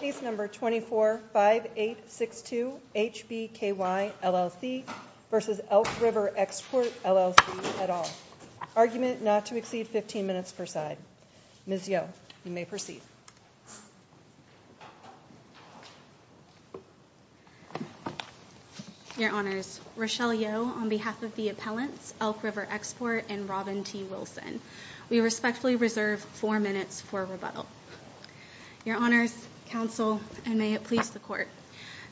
Case number 24-5862 HBKY LLC v. Elk River Export LLC et al. Argument not to exceed 15 minutes per side. Ms. Yeo, you may proceed. Your Honors. Rochelle Yeo on behalf of the appellants, Elk River Export and Robin T. Wilson. We respectfully reserve four minutes for rebuttal. Your Honors, Counsel, and may it please the Court.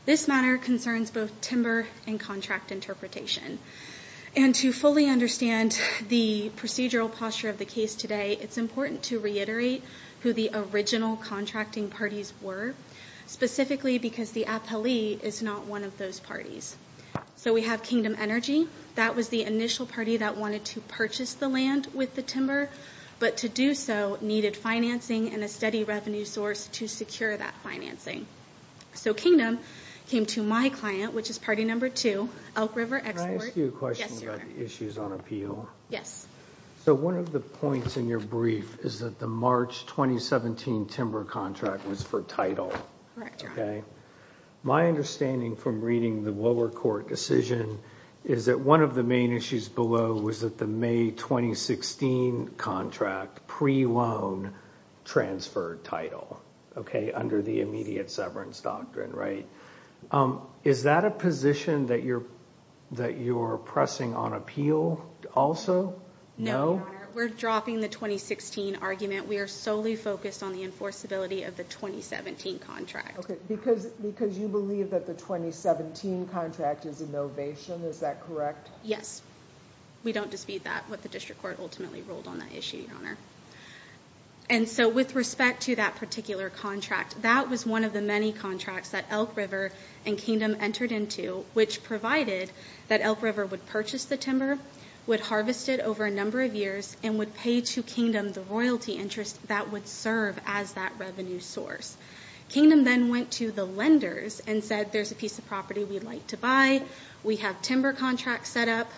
This matter concerns both timber and contract interpretation. And to fully understand the procedural posture of the case today, it's important to reiterate who the original contracting parties were, specifically because the appellee is not one of those parties. So we have Kingdom Energy. That was the initial party that wanted to purchase the land with the timber, but to do so needed financing and a steady revenue source to secure that financing. So Kingdom came to my client, which is party number two, Elk River Export. Can I ask you a question about the issues on appeal? Yes. So one of the points in your brief is that the March 2017 timber contract was for title. Correct. Okay. My understanding from reading the lower court decision is that one of the main issues below was that the May 2016 contract pre-loan transferred title, okay, under the immediate severance doctrine, right? Is that a position that you're pressing on appeal also? No, Your Honor. We're dropping the 2016 argument. We are solely focused on the enforceability of the 2017 contract. Okay, because you believe that the 2017 contract is innovation. Is that correct? Yes. We don't dispute that, what the district court ultimately ruled on that issue, Your Honor. And so with respect to that particular contract, that was one of the many contracts that Elk River and Kingdom entered into, which provided that Elk River would purchase the timber, would harvest it over a number of years, and would pay to Kingdom the royalty interest that would serve as that revenue source. Kingdom then went to the lenders and said, there's a piece of property we'd like to buy. We have timber contracts set up.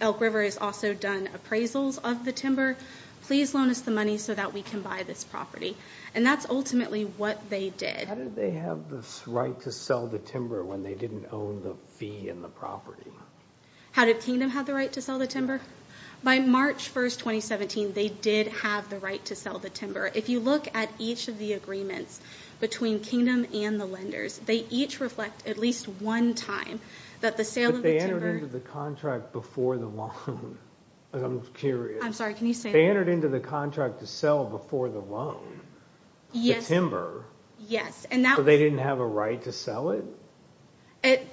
Elk River has also done appraisals of the timber. Please loan us the money so that we can buy this property. And that's ultimately what they did. How did they have this right to sell the timber when they didn't own the fee and the property? How did Kingdom have the right to sell the timber? By March 1st, 2017, they did have the right to sell the timber. If you look at each of the agreements between Kingdom and the lenders, they each reflect at least one time that the sale of the timber... But they entered into the contract before the loan. I'm curious. I'm sorry, can you say that? They entered into the contract to sell before the loan the timber. So they didn't have a right to sell it?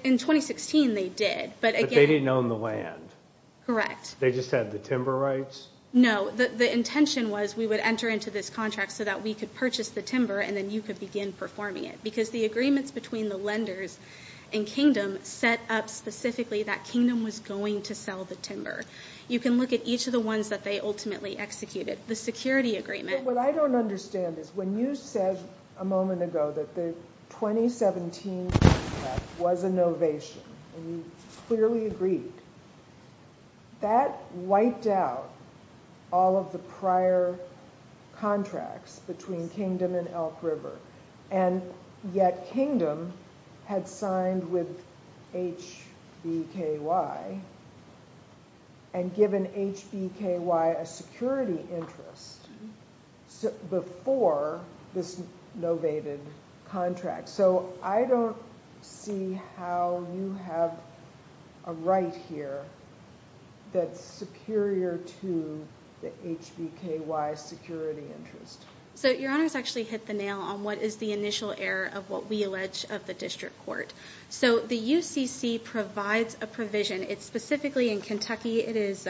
In 2016, they did. But they didn't own the land. Correct. They just had the timber rights? No, the intention was we would enter into this contract so that we could purchase the timber and then you could begin performing it. The agreements between the lenders and Kingdom set up specifically that Kingdom was going to sell the timber. You can look at each of the ones that they ultimately executed. The security agreement... What I don't understand is when you said a moment ago that the 2017 contract was a novation and you clearly agreed, that wiped out all of the prior contracts between Kingdom and Elk River. And yet Kingdom had signed with HBKY and given HBKY a security interest before this novated contract. So I don't see how you have a right here that's superior to the HBKY security interest. So your honors actually hit the nail on what is the initial error of what we allege of the district court. So the UCC provides a provision. It's specifically in Kentucky. It is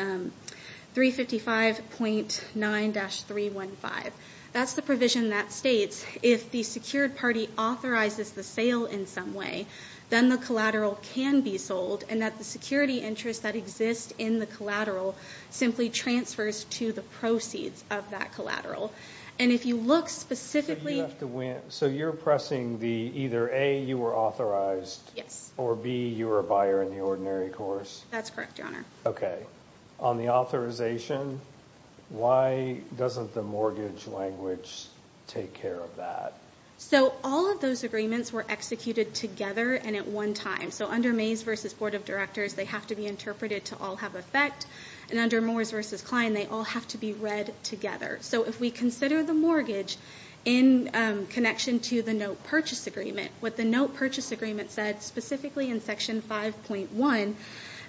355.9-315. That's the provision that states if the secured party authorizes the sale in some way, then the collateral can be sold and that the security interest that exists in the collateral simply transfers to the proceeds of that collateral. And if you look specifically... So you have to win... So you're pressing the either A, you were authorized... Yes. Or B, you were a buyer in the ordinary course. That's correct, your honor. Okay. On the authorization, why doesn't the mortgage language take care of that? So all of those agreements were executed together and at one time. So under Mays v. Board of Directors, they have to be interpreted to all have effect. And under Moores v. Kline, they all have to be read together. So if we consider the mortgage in connection to the note purchase agreement, what the note purchase agreement said, specifically in section 5.1,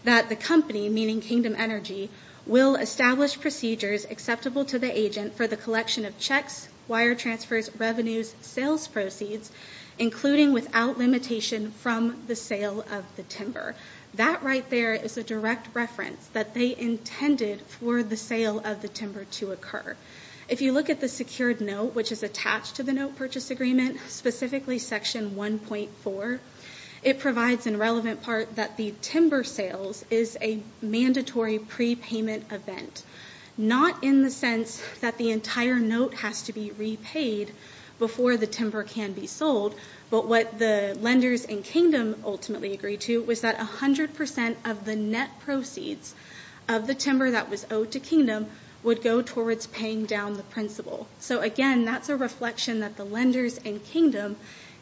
that the company, meaning Kingdom Energy, will establish procedures acceptable to the agent for the collection of checks, wire transfers, revenues, sales proceeds, including without limitation from the sale of the timber. That right there is a direct reference that they intended for the sale of the timber to occur. If you look at the secured note, which is attached to the note purchase agreement, specifically section 1.4, it provides in relevant part that the timber sales is a mandatory prepayment event. Not in the sense that the entire note has to be repaid before the timber can be sold, but what the lenders in Kingdom ultimately agreed to was that 100% of the net proceeds of the timber that was owed to Kingdom would go towards paying down the principal. So again, that's a reflection that the lenders in Kingdom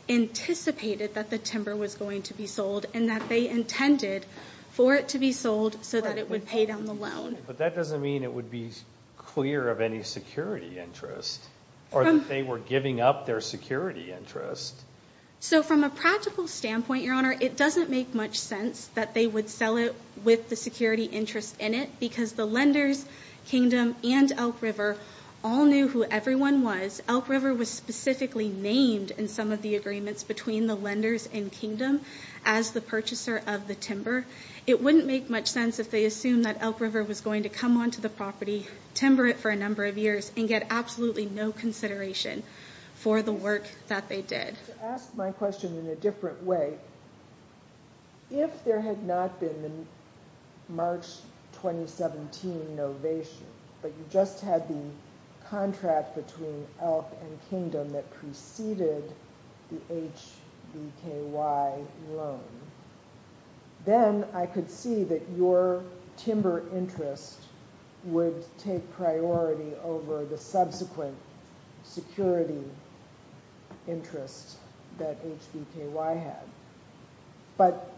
anticipated that the timber was going to be sold and that they intended for it to be sold so that it would pay down the loan. But that doesn't mean it would be clear of any security interest or that they were giving up their security interest. So from a practical standpoint, Your Honor, it doesn't make much sense that they would sell it with the security interest in it because the lenders, Kingdom, and Elk River all knew who everyone was. Elk River was specifically named in some of the agreements between the lenders and Kingdom as the purchaser of the timber. It wouldn't make much sense if they assumed that Elk River was going to come onto the property, timber it for a number of years, and get absolutely no consideration for the work that they did. To ask my question in a different way, if there had not been the March 2017 novation, but you just had the contract between Elk and Kingdom that preceded the HBKY loan, then I could see that your timber interest would take priority over the subsequent security interest. That HBKY had. But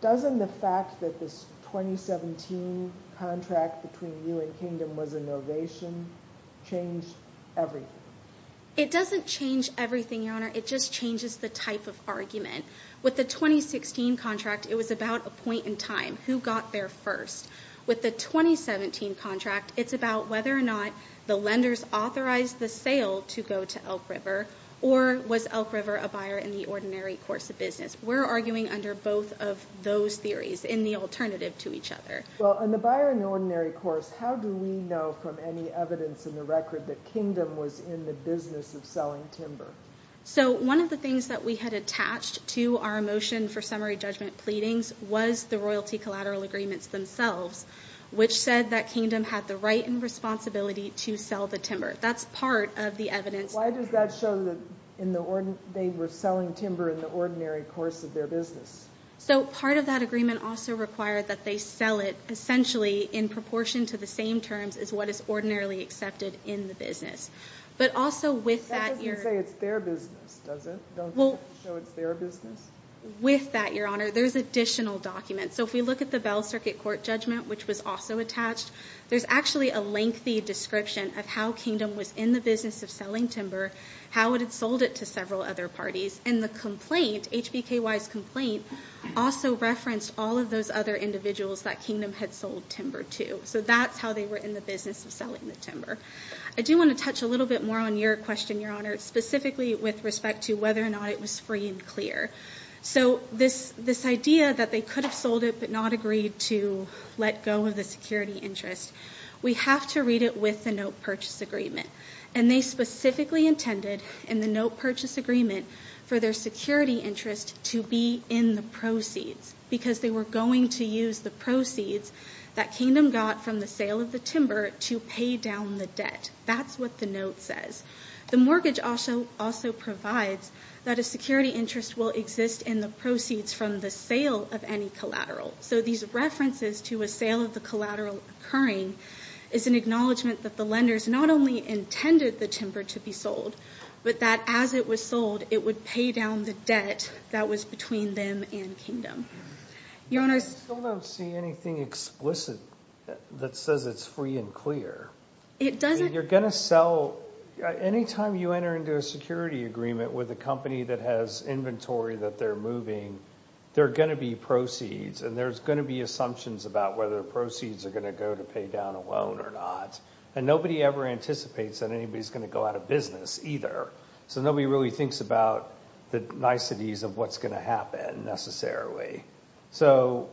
doesn't the fact that this 2017 contract between you and Kingdom was a novation change everything? It doesn't change everything, Your Honor. It just changes the type of argument. With the 2016 contract, it was about a point in time. Who got there first? With the 2017 contract, it's about whether or not the lenders authorized the sale to go to Elk River, or was Elk River a buyer in the ordinary course of business? We're arguing under both of those theories in the alternative to each other. Well, on the buyer in the ordinary course, how do we know from any evidence in the record that Kingdom was in the business of selling timber? One of the things that we had attached to our motion for summary judgment pleadings was the royalty collateral agreements themselves, which said that Kingdom had the right and responsibility to sell the timber. That's part of the evidence. Why does that show that they were selling timber in the ordinary course of their business? So part of that agreement also required that they sell it, essentially, in proportion to the same terms as what is ordinarily accepted in the business. But also with that... That doesn't say it's their business, does it? Don't you have to show it's their business? With that, Your Honor, there's additional documents. So if we look at the Bell Circuit Court judgment, which was also attached, there's actually a lengthy description of how Kingdom was in the business of selling timber, how it had sold it to several other parties. And the complaint, HBKY's complaint, also referenced all of those other individuals that Kingdom had sold timber to. So that's how they were in the business of selling the timber. I do want to touch a little bit more on your question, Your Honor, specifically with respect to whether or not it was free and clear. So this idea that they could have sold it, but not agreed to let go of the security interest, we have to read it with the note purchase agreement. And they specifically intended, in the note purchase agreement, for their security interest to be in the proceeds. Because they were going to use the proceeds that Kingdom got from the sale of the timber to pay down the debt. That's what the note says. The mortgage also provides that a security interest will exist in the proceeds from the sale of any collateral. So these references to a sale of the collateral occurring is an acknowledgment that the lenders not only intended the timber to be sold, but that as it was sold, it would pay down the debt that was between them and Kingdom. Your Honor, I still don't see anything explicit that says it's free and clear. It doesn't. You're going to sell, anytime you enter into a security agreement with a company that has inventory that they're moving, there are going to be proceeds. And there's going to be assumptions about whether the proceeds are going to go to pay down a loan or not. And nobody ever anticipates that anybody's going to go out of business either. So nobody really thinks about the niceties of what's going to happen necessarily. So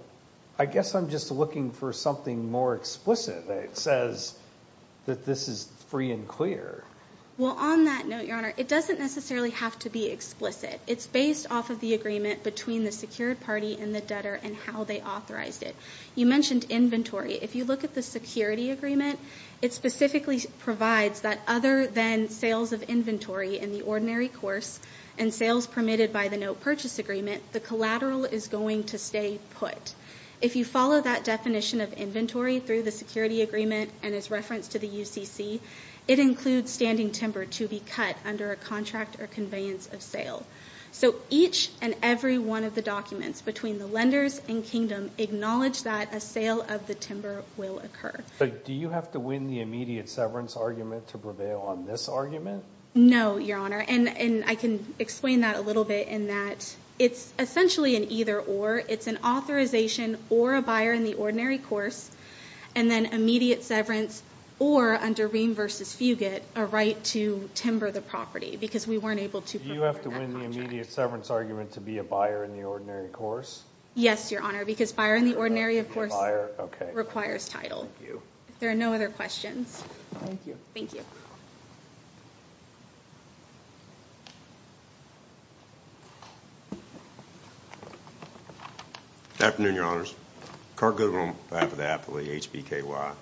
I guess I'm just looking for something more explicit that says that this is free and clear. Well, on that note, Your Honor, it doesn't necessarily have to be explicit. It's based off of the agreement between the secured party and the debtor and how they authorized it. You mentioned inventory. If you look at the security agreement, it specifically provides that other than sales of inventory in the ordinary course and sales permitted by the no purchase agreement, the collateral is going to stay put. If you follow that definition of inventory through the security agreement and its reference to the UCC, it includes standing timber to be cut under a contract or conveyance of sale. So each and every one of the documents between the lenders and kingdom acknowledge that a sale of the timber will occur. But do you have to win the immediate severance argument to prevail on this argument? No, Your Honor. And I can explain that a little bit in that it's essentially an either or. It's an authorization or a buyer in the ordinary course and then immediate severance or under Ream v. Fugate, a right to timber the property because we weren't able to prefer that contract. Do you have to win the immediate severance argument to be a buyer in the ordinary course? Yes, Your Honor, because buyer in the ordinary, of course, requires title. Thank you. If there are no other questions. Thank you. Thank you. Good afternoon, Your Honors. Clark Goodwin on behalf of the affiliate HBKY.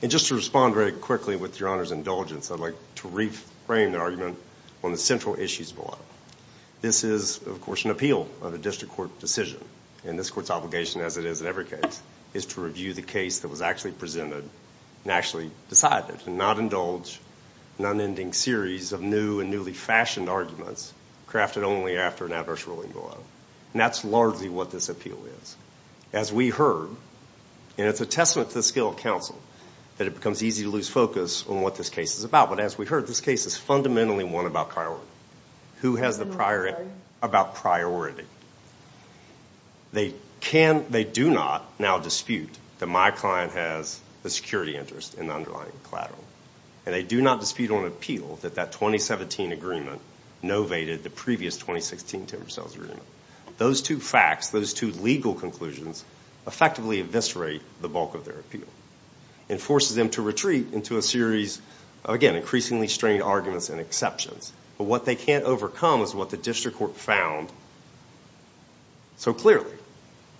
And just to respond very quickly with Your Honor's indulgence, I'd like to reframe the argument on the central issues below. This is, of course, an appeal of a district court decision. And this court's obligation, as it is in every case, is to review the case that was actually presented and actually decided and not indulge a non-ending series of new and newly fashioned arguments crafted only after an adverse ruling below. And that's largely what this appeal is. As we heard, and it's a testament to the skill of counsel that it becomes easy to lose focus on what this case is about. But as we heard, this case is fundamentally one about coward. Who has the priority? About priority. They do not now dispute that my client has the security interest in the underlying collateral. And they do not dispute on appeal that that 2017 agreement novated the previous 2016 timber sales agreement. Those two facts, those two legal conclusions, effectively eviscerate the bulk of their appeal. It forces them to retreat into a series, again, increasingly strained arguments and exceptions. But what they can't overcome is what the district court found so clearly.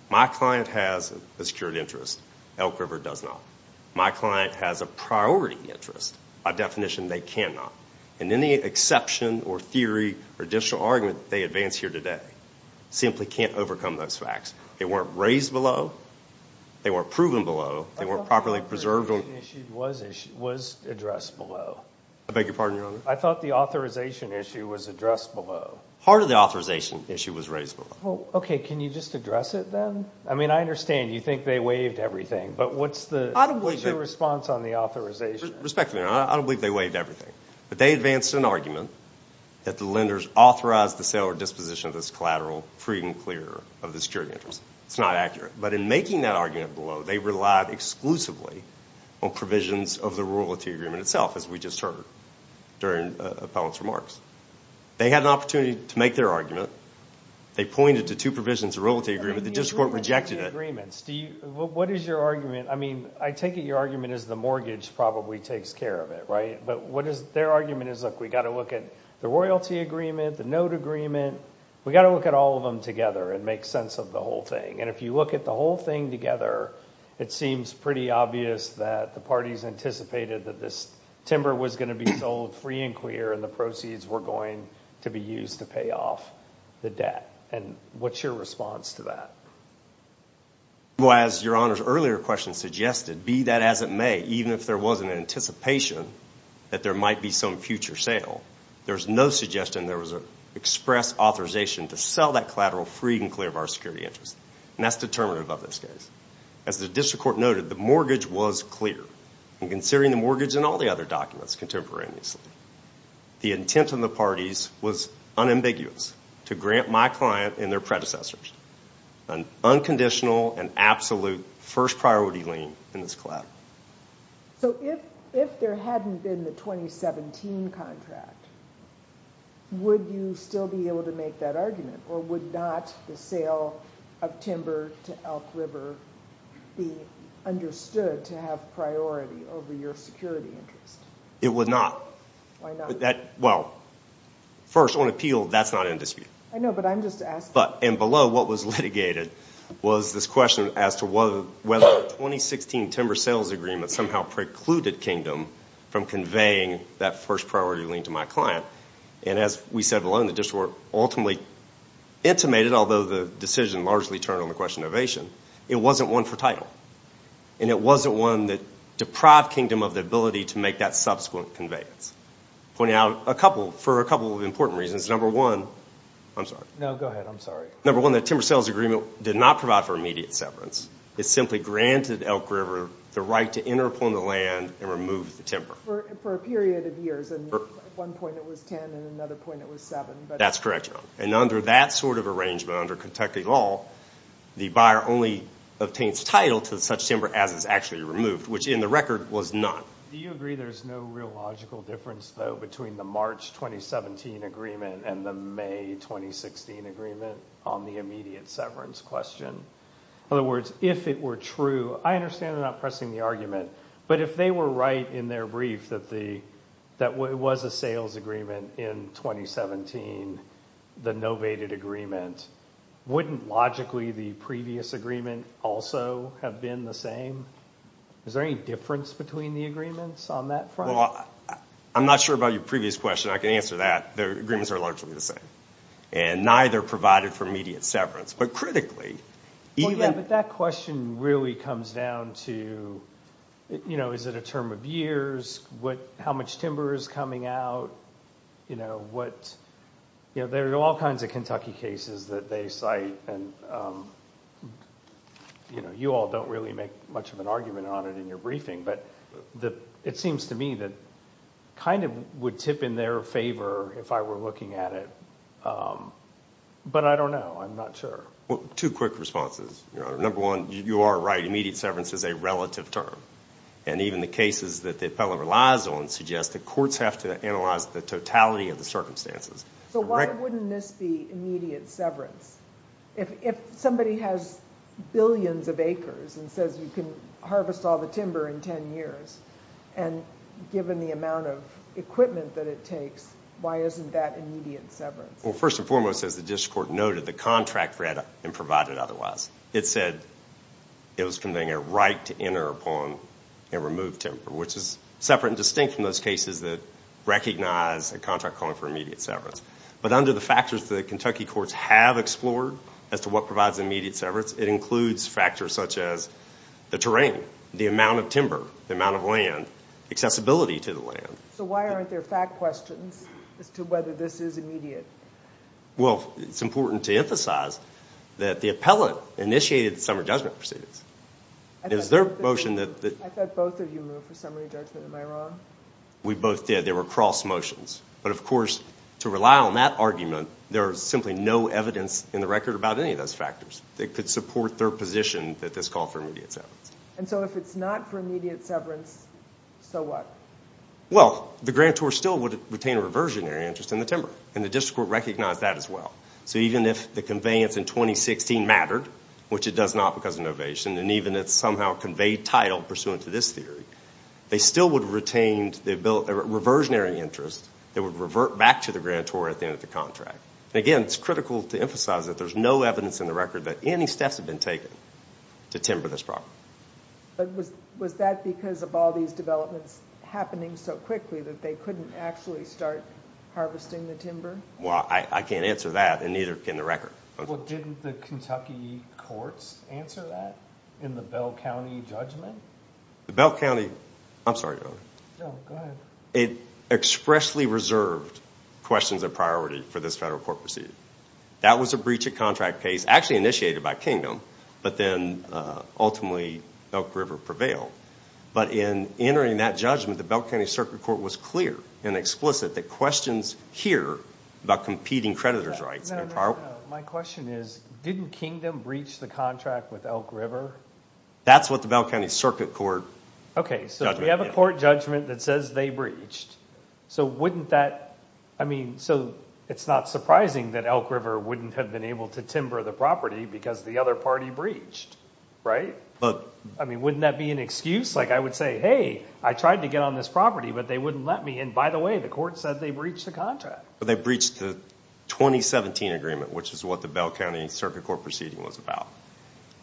My client has a secured interest. Elk River does not. My client has a priority interest. By definition, they cannot. And any exception or theory or additional argument they advance here today simply can't overcome those facts. They weren't raised below. They weren't proven below. They weren't properly preserved. The issue was addressed below. I beg your pardon, Your Honor. I thought the authorization issue was addressed below. Part of the authorization issue was raised below. Well, okay. Can you just address it then? I mean, I understand you think they waived everything. But what's the response on the authorization? Respectfully, Your Honor, I don't believe they waived everything. But they advanced an argument that the lenders authorized the sale or disposition of this collateral free and clear of the security interest. It's not accurate. But in making that argument below, they relied exclusively on provisions of the royalty agreement itself, as we just heard during Appellant's remarks. They had an opportunity to make their argument. They pointed to two provisions of royalty agreement. The district court rejected it. What is your argument? I mean, I take it your argument is the mortgage probably takes care of it, right? But what is their argument is, look, we got to look at the royalty agreement, the note agreement. We got to look at all of them together and make sense of the whole thing. And if you look at the whole thing together, it seems pretty obvious that the parties anticipated that this timber was going to be sold free and clear and the proceeds were going to be used to pay off the debt. And what's your response to that? Well, as your Honor's earlier question suggested, be that as it may, even if there wasn't an anticipation that there might be some future sale, there's no suggestion there was an express authorization to sell that collateral free and clear of our security interest. And that's determinative of this case. As the district court noted, the mortgage was clear. And considering the mortgage and all the other documents contemporaneously, the intent of the parties was unambiguous to grant my client and their predecessors an unconditional and absolute first priority lien in this collateral. So if there hadn't been the 2017 contract, would you still be able to make that argument? Or would not the sale of timber to Elk River be understood to have priority over your security interest? It would not. Why not? Well, first on appeal, that's not in dispute. I know, but I'm just asking. And below what was litigated was this question as to whether the 2016 timber sales agreement somehow precluded Kingdom from conveying that first priority lien to my client. And as we said alone, the district court ultimately intimated, although the decision largely turned on the question of ovation, it wasn't one for title. And it wasn't one that deprived Kingdom of the ability to make that subsequent conveyance. Pointing out a couple, for a couple of important reasons. Number one, I'm sorry. No, go ahead, I'm sorry. Number one, the timber sales agreement did not provide for immediate severance. It simply granted Elk River the right to enter upon the land and remove the timber. For a period of years, and at one point it was 10 and at another point it was seven. That's correct, Joan. And under that sort of arrangement, under Kentucky law, the buyer only obtains title to such timber as is actually removed, which in the record was not. Do you agree there's no real logical difference, though, between the March 2017 agreement and the May 2016 agreement on the immediate severance question? In other words, if it were true, I understand they're not pressing the argument, but if they were right in their brief that it was a sales agreement in 2017, the novated agreement wouldn't logically the previous agreement also have been the same? Is there any difference between the agreements on that front? Well, I'm not sure about your previous question. I can answer that. The agreements are largely the same and neither provided for immediate severance. But critically, even... But that question really comes down to, you know, is it a term of years? How much timber is coming out? You know, there are all kinds of Kentucky cases that they cite and, you know, you all don't really make much of an argument on it in your briefing, but it seems to me that kind of would tip in their favor if I were looking at it. But I don't know. I'm not sure. Two quick responses, Your Honor. Number one, you are right. Immediate severance is a relative term. And even the cases that the appellant relies on suggest that courts have to analyze the totality of the circumstances. So why wouldn't this be immediate severance? If somebody has billions of acres and says you can harvest all the timber in 10 years and given the amount of equipment that it takes, why isn't that immediate severance? Well, first and foremost, as the district court noted, the contract read and provided otherwise. It said it was conveying a right to enter upon and remove timber, which is separate and distinct from those cases that recognize a contract calling for immediate severance. But under the factors that Kentucky courts have explored as to what provides immediate severance, it includes factors such as the terrain, the amount of timber, the amount of land, accessibility to the land. So why aren't there fact questions as to whether this is immediate? Well, it's important to emphasize that the appellant initiated the summary judgment proceedings. Is there a motion that... I thought both of you moved for summary judgment. Am I wrong? We both did. There were cross motions. But of course, to rely on that argument, there is simply no evidence in the record about any of those factors that could support their position that this call for immediate severance. And so if it's not for immediate severance, so what? Well, the grantor still would retain a reversionary interest in the timber and the district court recognized that as well. So even if the conveyance in 2016 mattered, which it does not because of an ovation and even it's somehow conveyed title pursuant to this theory, they still would have retained a reversionary interest that would revert back to the grantor at the end of the contract. And again, it's critical to emphasize that there's no evidence in the record that any steps have been taken to timber this property. But was that because of all these developments happening so quickly that they couldn't actually start harvesting the timber? Well, I can't answer that and neither can the record. Well, didn't the Kentucky courts answer that in the Bell County judgment? The Bell County... I'm sorry, Your Honor. No, go ahead. It expressly reserved questions of priority for this federal court procedure. That was a breach of contract case actually initiated by Kingdom, but then ultimately Elk River prevailed. But in entering that judgment, the Bell County Circuit Court was clear and explicit that questions here about competing creditor's rights... No, no, no. My question is, didn't Kingdom breach the contract with Elk River? That's what the Bell County Circuit Court... Okay, so we have a court judgment that says they breached. So wouldn't that... I mean, so it's not surprising that Elk River wouldn't have been able to timber the property because the other party breached, right? But... I mean, wouldn't that be an excuse? Like I would say, hey, I tried to get on this property, but they wouldn't let me. And by the way, the court said they breached the contract. They breached the 2017 agreement, which is what the Bell County Circuit Court Proceeding was about,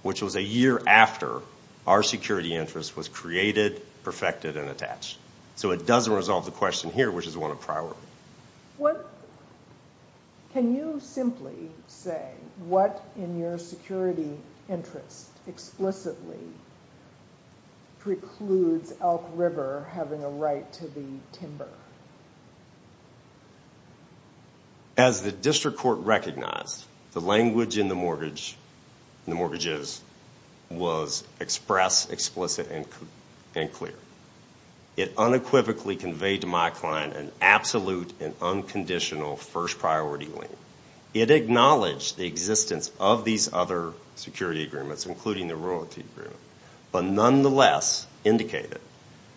which was a year after our security interest was created, perfected, and attached. So it doesn't resolve the question here, which is one of priority. What... Can you simply say what in your security interest explicitly precludes Elk River having a right to the timber? As the district court recognized, the language in the mortgages was express, explicit, and clear. It unequivocally conveyed to my client an absolute and unconditional first priority lien. It acknowledged the existence of these other security agreements, including the royalty agreement, but nonetheless indicated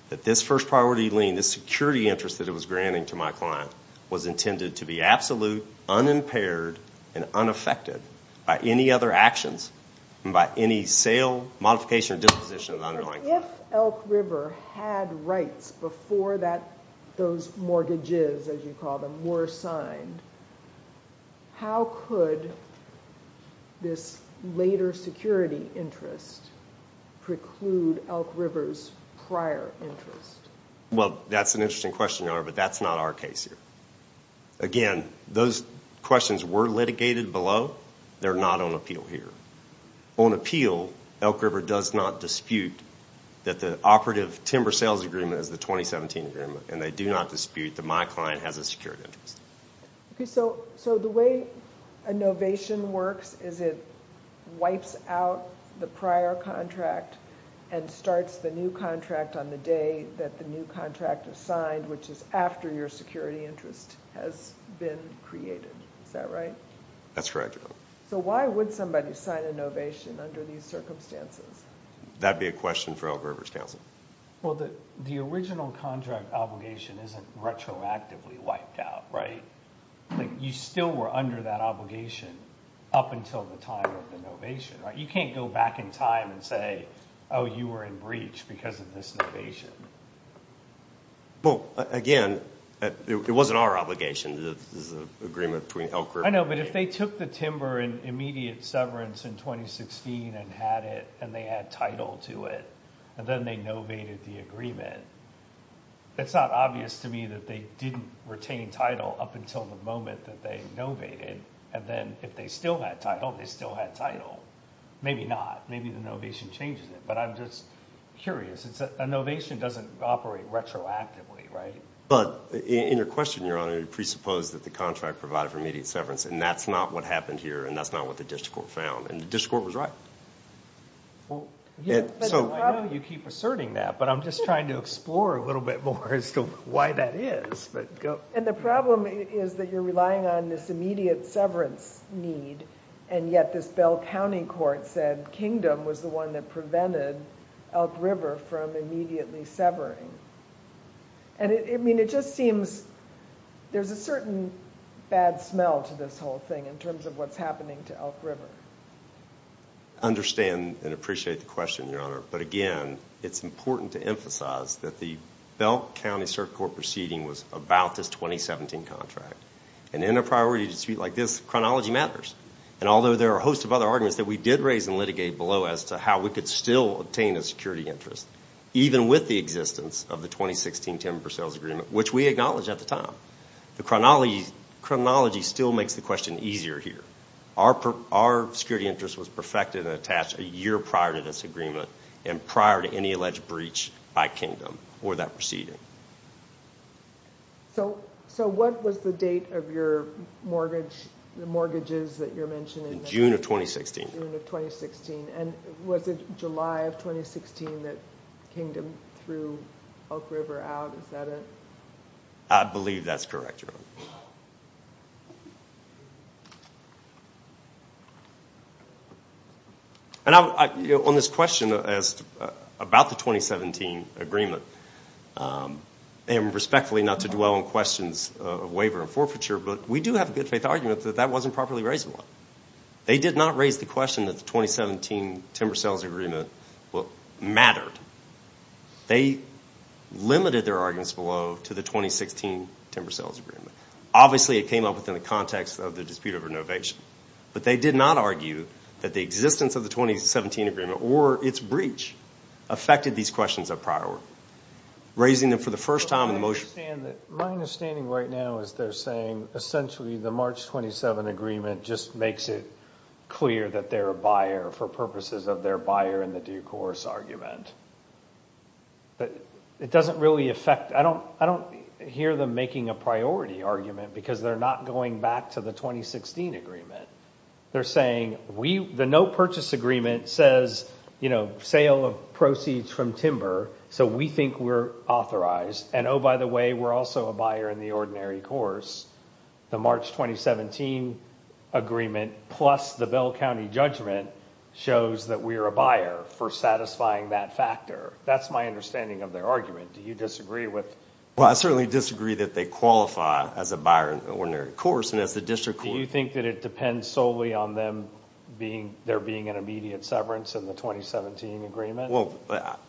that this first priority lien, this security interest that it was granting to my client, was intended to be absolute, unimpaired, and unaffected by any other actions, and by any sale, modification, or disposition of the underlying... If Elk River had rights before those mortgages, as you call them, were signed, how could this later security interest preclude Elk River's prior interest? Well, that's an interesting question, Your Honor, but that's not our case here. Again, those questions were litigated below. They're not on appeal here. On appeal, Elk River does not dispute that the operative timber sales agreement is the 2017 agreement, and they do not dispute that my client has a security interest. So the way a novation works is it wipes out the prior contract and starts the new contract on the day that the new contract is signed, which is after your security interest has been created. Is that right? That's correct, Your Honor. So why would somebody sign a novation under these circumstances? That'd be a question for Elk River's counsel. Well, the original contract obligation isn't retroactively wiped out, right? You still were under that obligation up until the time of the novation, right? You can't go back in time and say, oh, you were in breach because of this novation. Well, again, it wasn't our obligation. This is an agreement between Elk River and Elk River. I know, but if they took the timber and immediate severance in 2016 and had it, and they had title to it, and then they novated the agreement, it's not obvious to me that they didn't retain title up until the moment that they novated. And then if they still had title, they still had title. Maybe not. Maybe the novation changes it. But I'm just curious. A novation doesn't operate retroactively, right? But in your question, Your Honor, you presupposed that the contract provided for immediate severance, and that's not what happened here, and that's not what the district court found. And the district court was right. So I know you keep asserting that, but I'm just trying to explore a little bit more as to why that is. And the problem is that you're relying on this immediate severance need, and yet this Bell County court said Kingdom was the one that prevented Elk River from immediately severing. And I mean, it just seems there's a certain bad smell to this whole thing in terms of what's happening to Elk River. Understand and appreciate the question, Your Honor. But again, it's important to emphasize that the Bell County Circuit Court proceeding was about this 2017 contract. And in a priority dispute like this, chronology matters. And although there are a host of other arguments that we did raise and litigate below as to how we could still obtain a security interest, even with the existence of the 2016 Timber Sales Agreement, which we acknowledged at the time, the chronology still makes the question easier here. Our security interest was perfected and attached a year prior to this agreement and prior to any alleged breach by Kingdom or that proceeding. So what was the date of your mortgage, the mortgages that you're mentioning? In June of 2016. June of 2016. And was it July of 2016 that Kingdom threw Elk River out? Is that it? I believe that's correct, Your Honor. And on this question about the 2017 agreement, and respectfully not to dwell on questions of waiver and forfeiture, but we do have a good faith argument that that wasn't properly raised at all. They did not raise the question that the 2017 Timber Sales Agreement mattered. They limited their arguments below to the 2016 Timber Sales Agreement. Obviously, it came up within the context of the dispute over innovation, but they did not argue that the existence of the 2017 agreement or its breach affected these questions of prior work. Raising them for the first time in the motion. My understanding right now is they're saying essentially the March 27 agreement just makes it clear that they're a buyer for purposes of their buyer in the due course argument. But it doesn't really affect, I don't hear them making a priority argument because they're not going back to the 2016 agreement. They're saying the no purchase agreement says sale of proceeds from timber, so we think we're authorized. And oh, by the way, we're also a buyer in the ordinary course. The March 2017 agreement plus the Bell County judgment shows that we're a buyer for satisfying that factor. That's my understanding of their argument. Do you disagree with? Well, I certainly disagree that they qualify as a buyer in the ordinary course and as the district court. Do you think that it depends solely on them there being an immediate severance in the 2017 agreement? Well,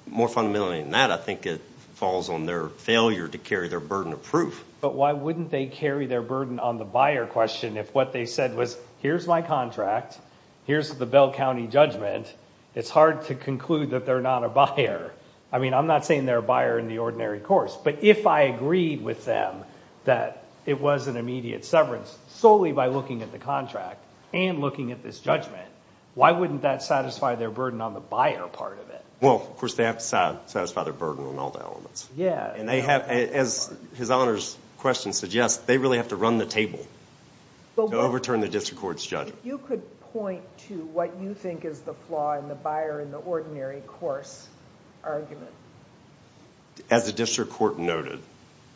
more fundamentally than that, I think it falls on their failure to carry their burden of proof. But why wouldn't they carry their burden on the buyer question if what they said was, here's my contract, here's the Bell County judgment, it's hard to conclude that they're not a buyer. I mean, I'm not saying they're a buyer in the ordinary course, but if I agreed with them that it was an immediate severance solely by looking at the contract and looking at this judgment, why wouldn't that satisfy their burden on the buyer part of it? Well, of course, they have to satisfy their burden on all the elements. Yeah. As His Honor's question suggests, they really have to run the table to overturn the district court's judgment. You could point to what you think is the flaw in the buyer in the ordinary course argument. As the district court noted,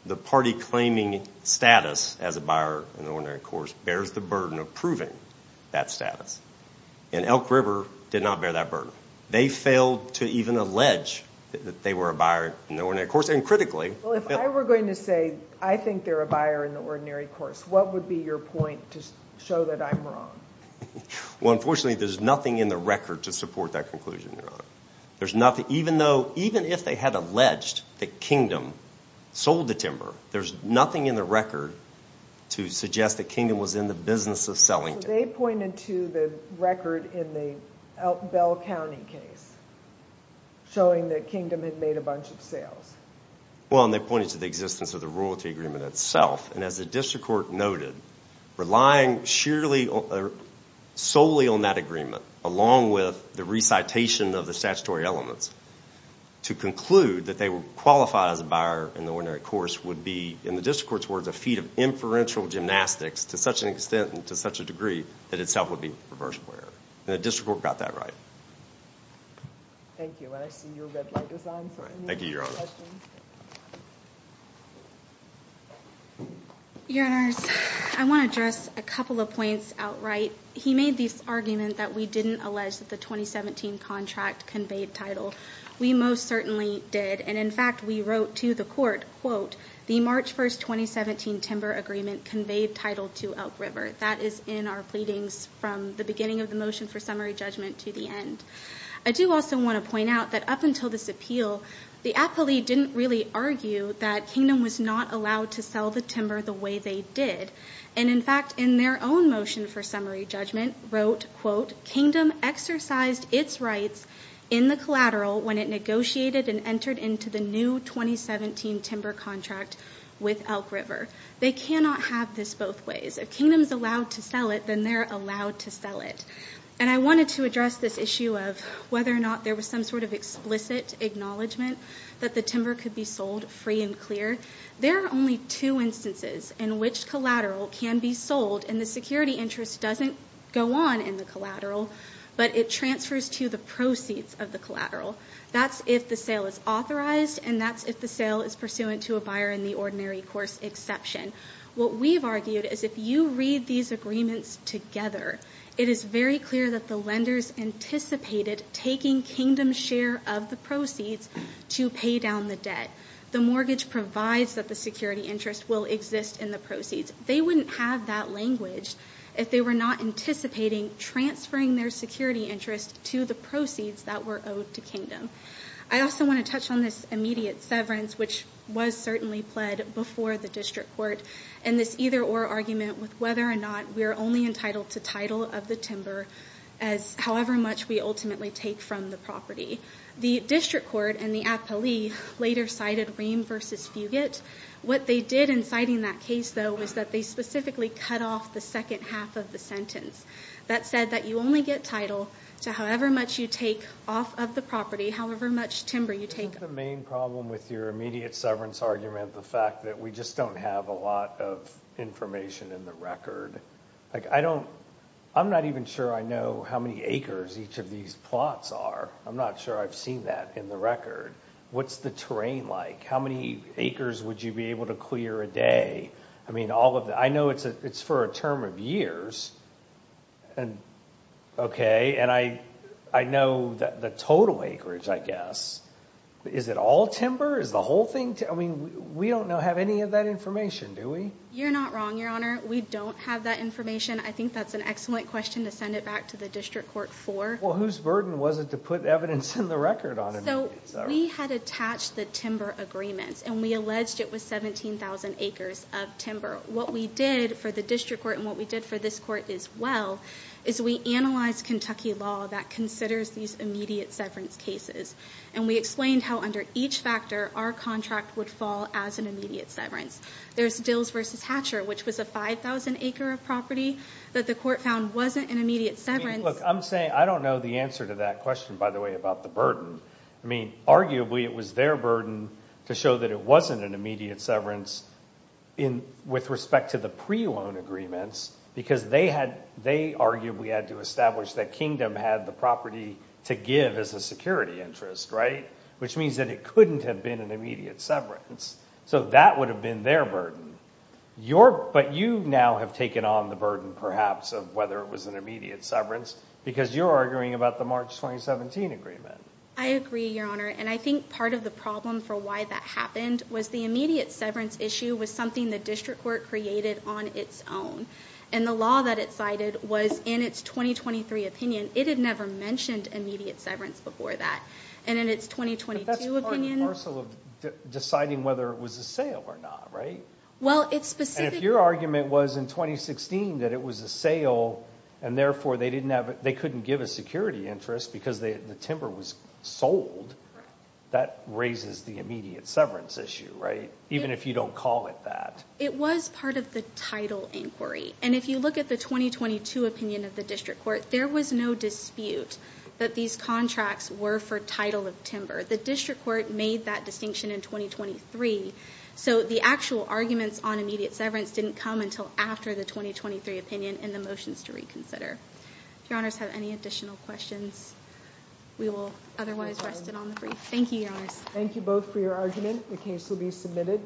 the party claiming status as a buyer in the ordinary course bears the burden of proving that status. And Elk River did not bear that burden. They failed to even allege that they were a buyer in the ordinary course and critically. Well, if I were going to say, I think they're a buyer in the ordinary course, what would be your point to show that I'm wrong? Well, unfortunately, there's nothing in the record to support that conclusion, Your Honor. There's nothing, even though, even if they had alleged that Kingdom sold the timber, there's nothing in the record to suggest that Kingdom was in the business of selling. They pointed to the record in the Elkville County case showing that Kingdom had made a bunch of sales. Well, and they pointed to the existence of the royalty agreement itself. And as the district court noted, relying solely on that agreement, along with the recitation of the statutory elements, to conclude that they were qualified as a buyer in the ordinary course would be, in the district court's words, a feat of inferential gymnastics to such an extent and to such a degree that itself would be a perverse player. And the district court got that right. Thank you. And I see you've got Thank you, Your Honor. Your Honors, I want to address a couple of points outright. He made this argument that we didn't allege that the 2017 contract conveyed title. We most certainly did. And in fact, we wrote to the court, the March 1st, 2017 timber agreement conveyed title to Elk River. That is in our pleadings from the beginning of the motion for summary judgment to the end. I do also want to point out that up until this appeal, the appellee didn't really argue that Kingdom was not allowed to sell the timber the way they did. And in fact, in their own motion for summary judgment, wrote, quote, Kingdom exercised its rights in the collateral when it negotiated and entered into the new 2017 timber contract with Elk River. They cannot have this both ways. If Kingdom's allowed to sell it, then they're allowed to sell it. And I wanted to address this issue of whether or not there was some sort of explicit acknowledgement that the timber could be sold free and clear. There are only two instances in which collateral can be sold and the security interest doesn't go on in the collateral, but it transfers to the proceeds of the collateral. That's if the sale is authorized and that's if the sale is pursuant to a buyer in the ordinary course exception. What we've argued is if you read these agreements together, it is very clear that the lenders anticipated taking Kingdom's share of the proceeds to pay down the debt. The mortgage provides that the security interest will exist in the proceeds. They wouldn't have that language if they were not anticipating transferring their security interest to the proceeds that were owed to Kingdom. I also want to touch on this immediate severance, which was certainly pled before the district court and this either or argument with whether or not we're only entitled to title of the timber as however much we ultimately take from the property. The district court and the appellee later cited Ream versus Fugate. What they did in citing that case, though, is that they specifically cut off the second half of the sentence. That said that you only get title to however much you take off of the property, however much timber you take. The main problem with your immediate severance argument, the fact that we just don't have a lot of information in the record. Like I don't I'm not even sure I know how many acres each of these plots are. I'm not sure I've seen that in the record. What's the terrain like? How many acres would you be able to clear a day? I mean, all of that. I know it's it's for a term of years. And OK, and I I know the total acreage, I guess. Is it all timber? Is the whole thing? I mean, we don't know, have any of that information, do we? You're not wrong, Your Honor. We don't have that information. I think that's an excellent question to send it back to the district court for. Well, whose burden was it to put evidence in the record on it? So we had attached the timber agreements and we alleged it was 17,000 acres of timber. What we did for the district court and what we did for this court as well is we analyzed Kentucky law that considers these immediate severance cases. And we explained how under each factor our contract would fall as an immediate severance. There's Dills versus Hatcher, which was a 5000 acre of property that the court found wasn't an immediate severance. Look, I'm saying I don't know the answer to that question, by the way, about the burden. I mean, arguably it was their burden to show that it wasn't an immediate severance with respect to the pre-loan agreements because they had, they arguably had to establish that Kingdom had the property to give as a security interest, right? Which means that it couldn't have been an immediate severance. So that would have been their burden. But you now have taken on the burden, perhaps, of whether it was an immediate severance because you're arguing about the March 2017 agreement. I agree, Your Honor. And I think part of the problem for why that happened was the immediate severance issue was something the district court created on its own. And the law that it cited was in its 2023 opinion. It had never mentioned immediate severance before that. And in its 2022 opinion... But that's part and parcel of deciding whether it was a sale or not, right? Well, it's specific... And if your argument was in 2016 that it was a sale and therefore they couldn't give a security interest because the timber was sold, that raises the immediate severance issue, right? Even if you don't call it that. It was part of the title inquiry. And if you look at the 2022 opinion of the district court, there was no dispute that these contracts were for title of timber. The district court made that distinction in 2023. So the actual arguments on immediate severance didn't come until after the 2023 opinion and the motions to reconsider. If your honors have any additional questions, we will otherwise rest it on the brief. Thank you, your honors. Thank you both for your argument. The case will be submitted.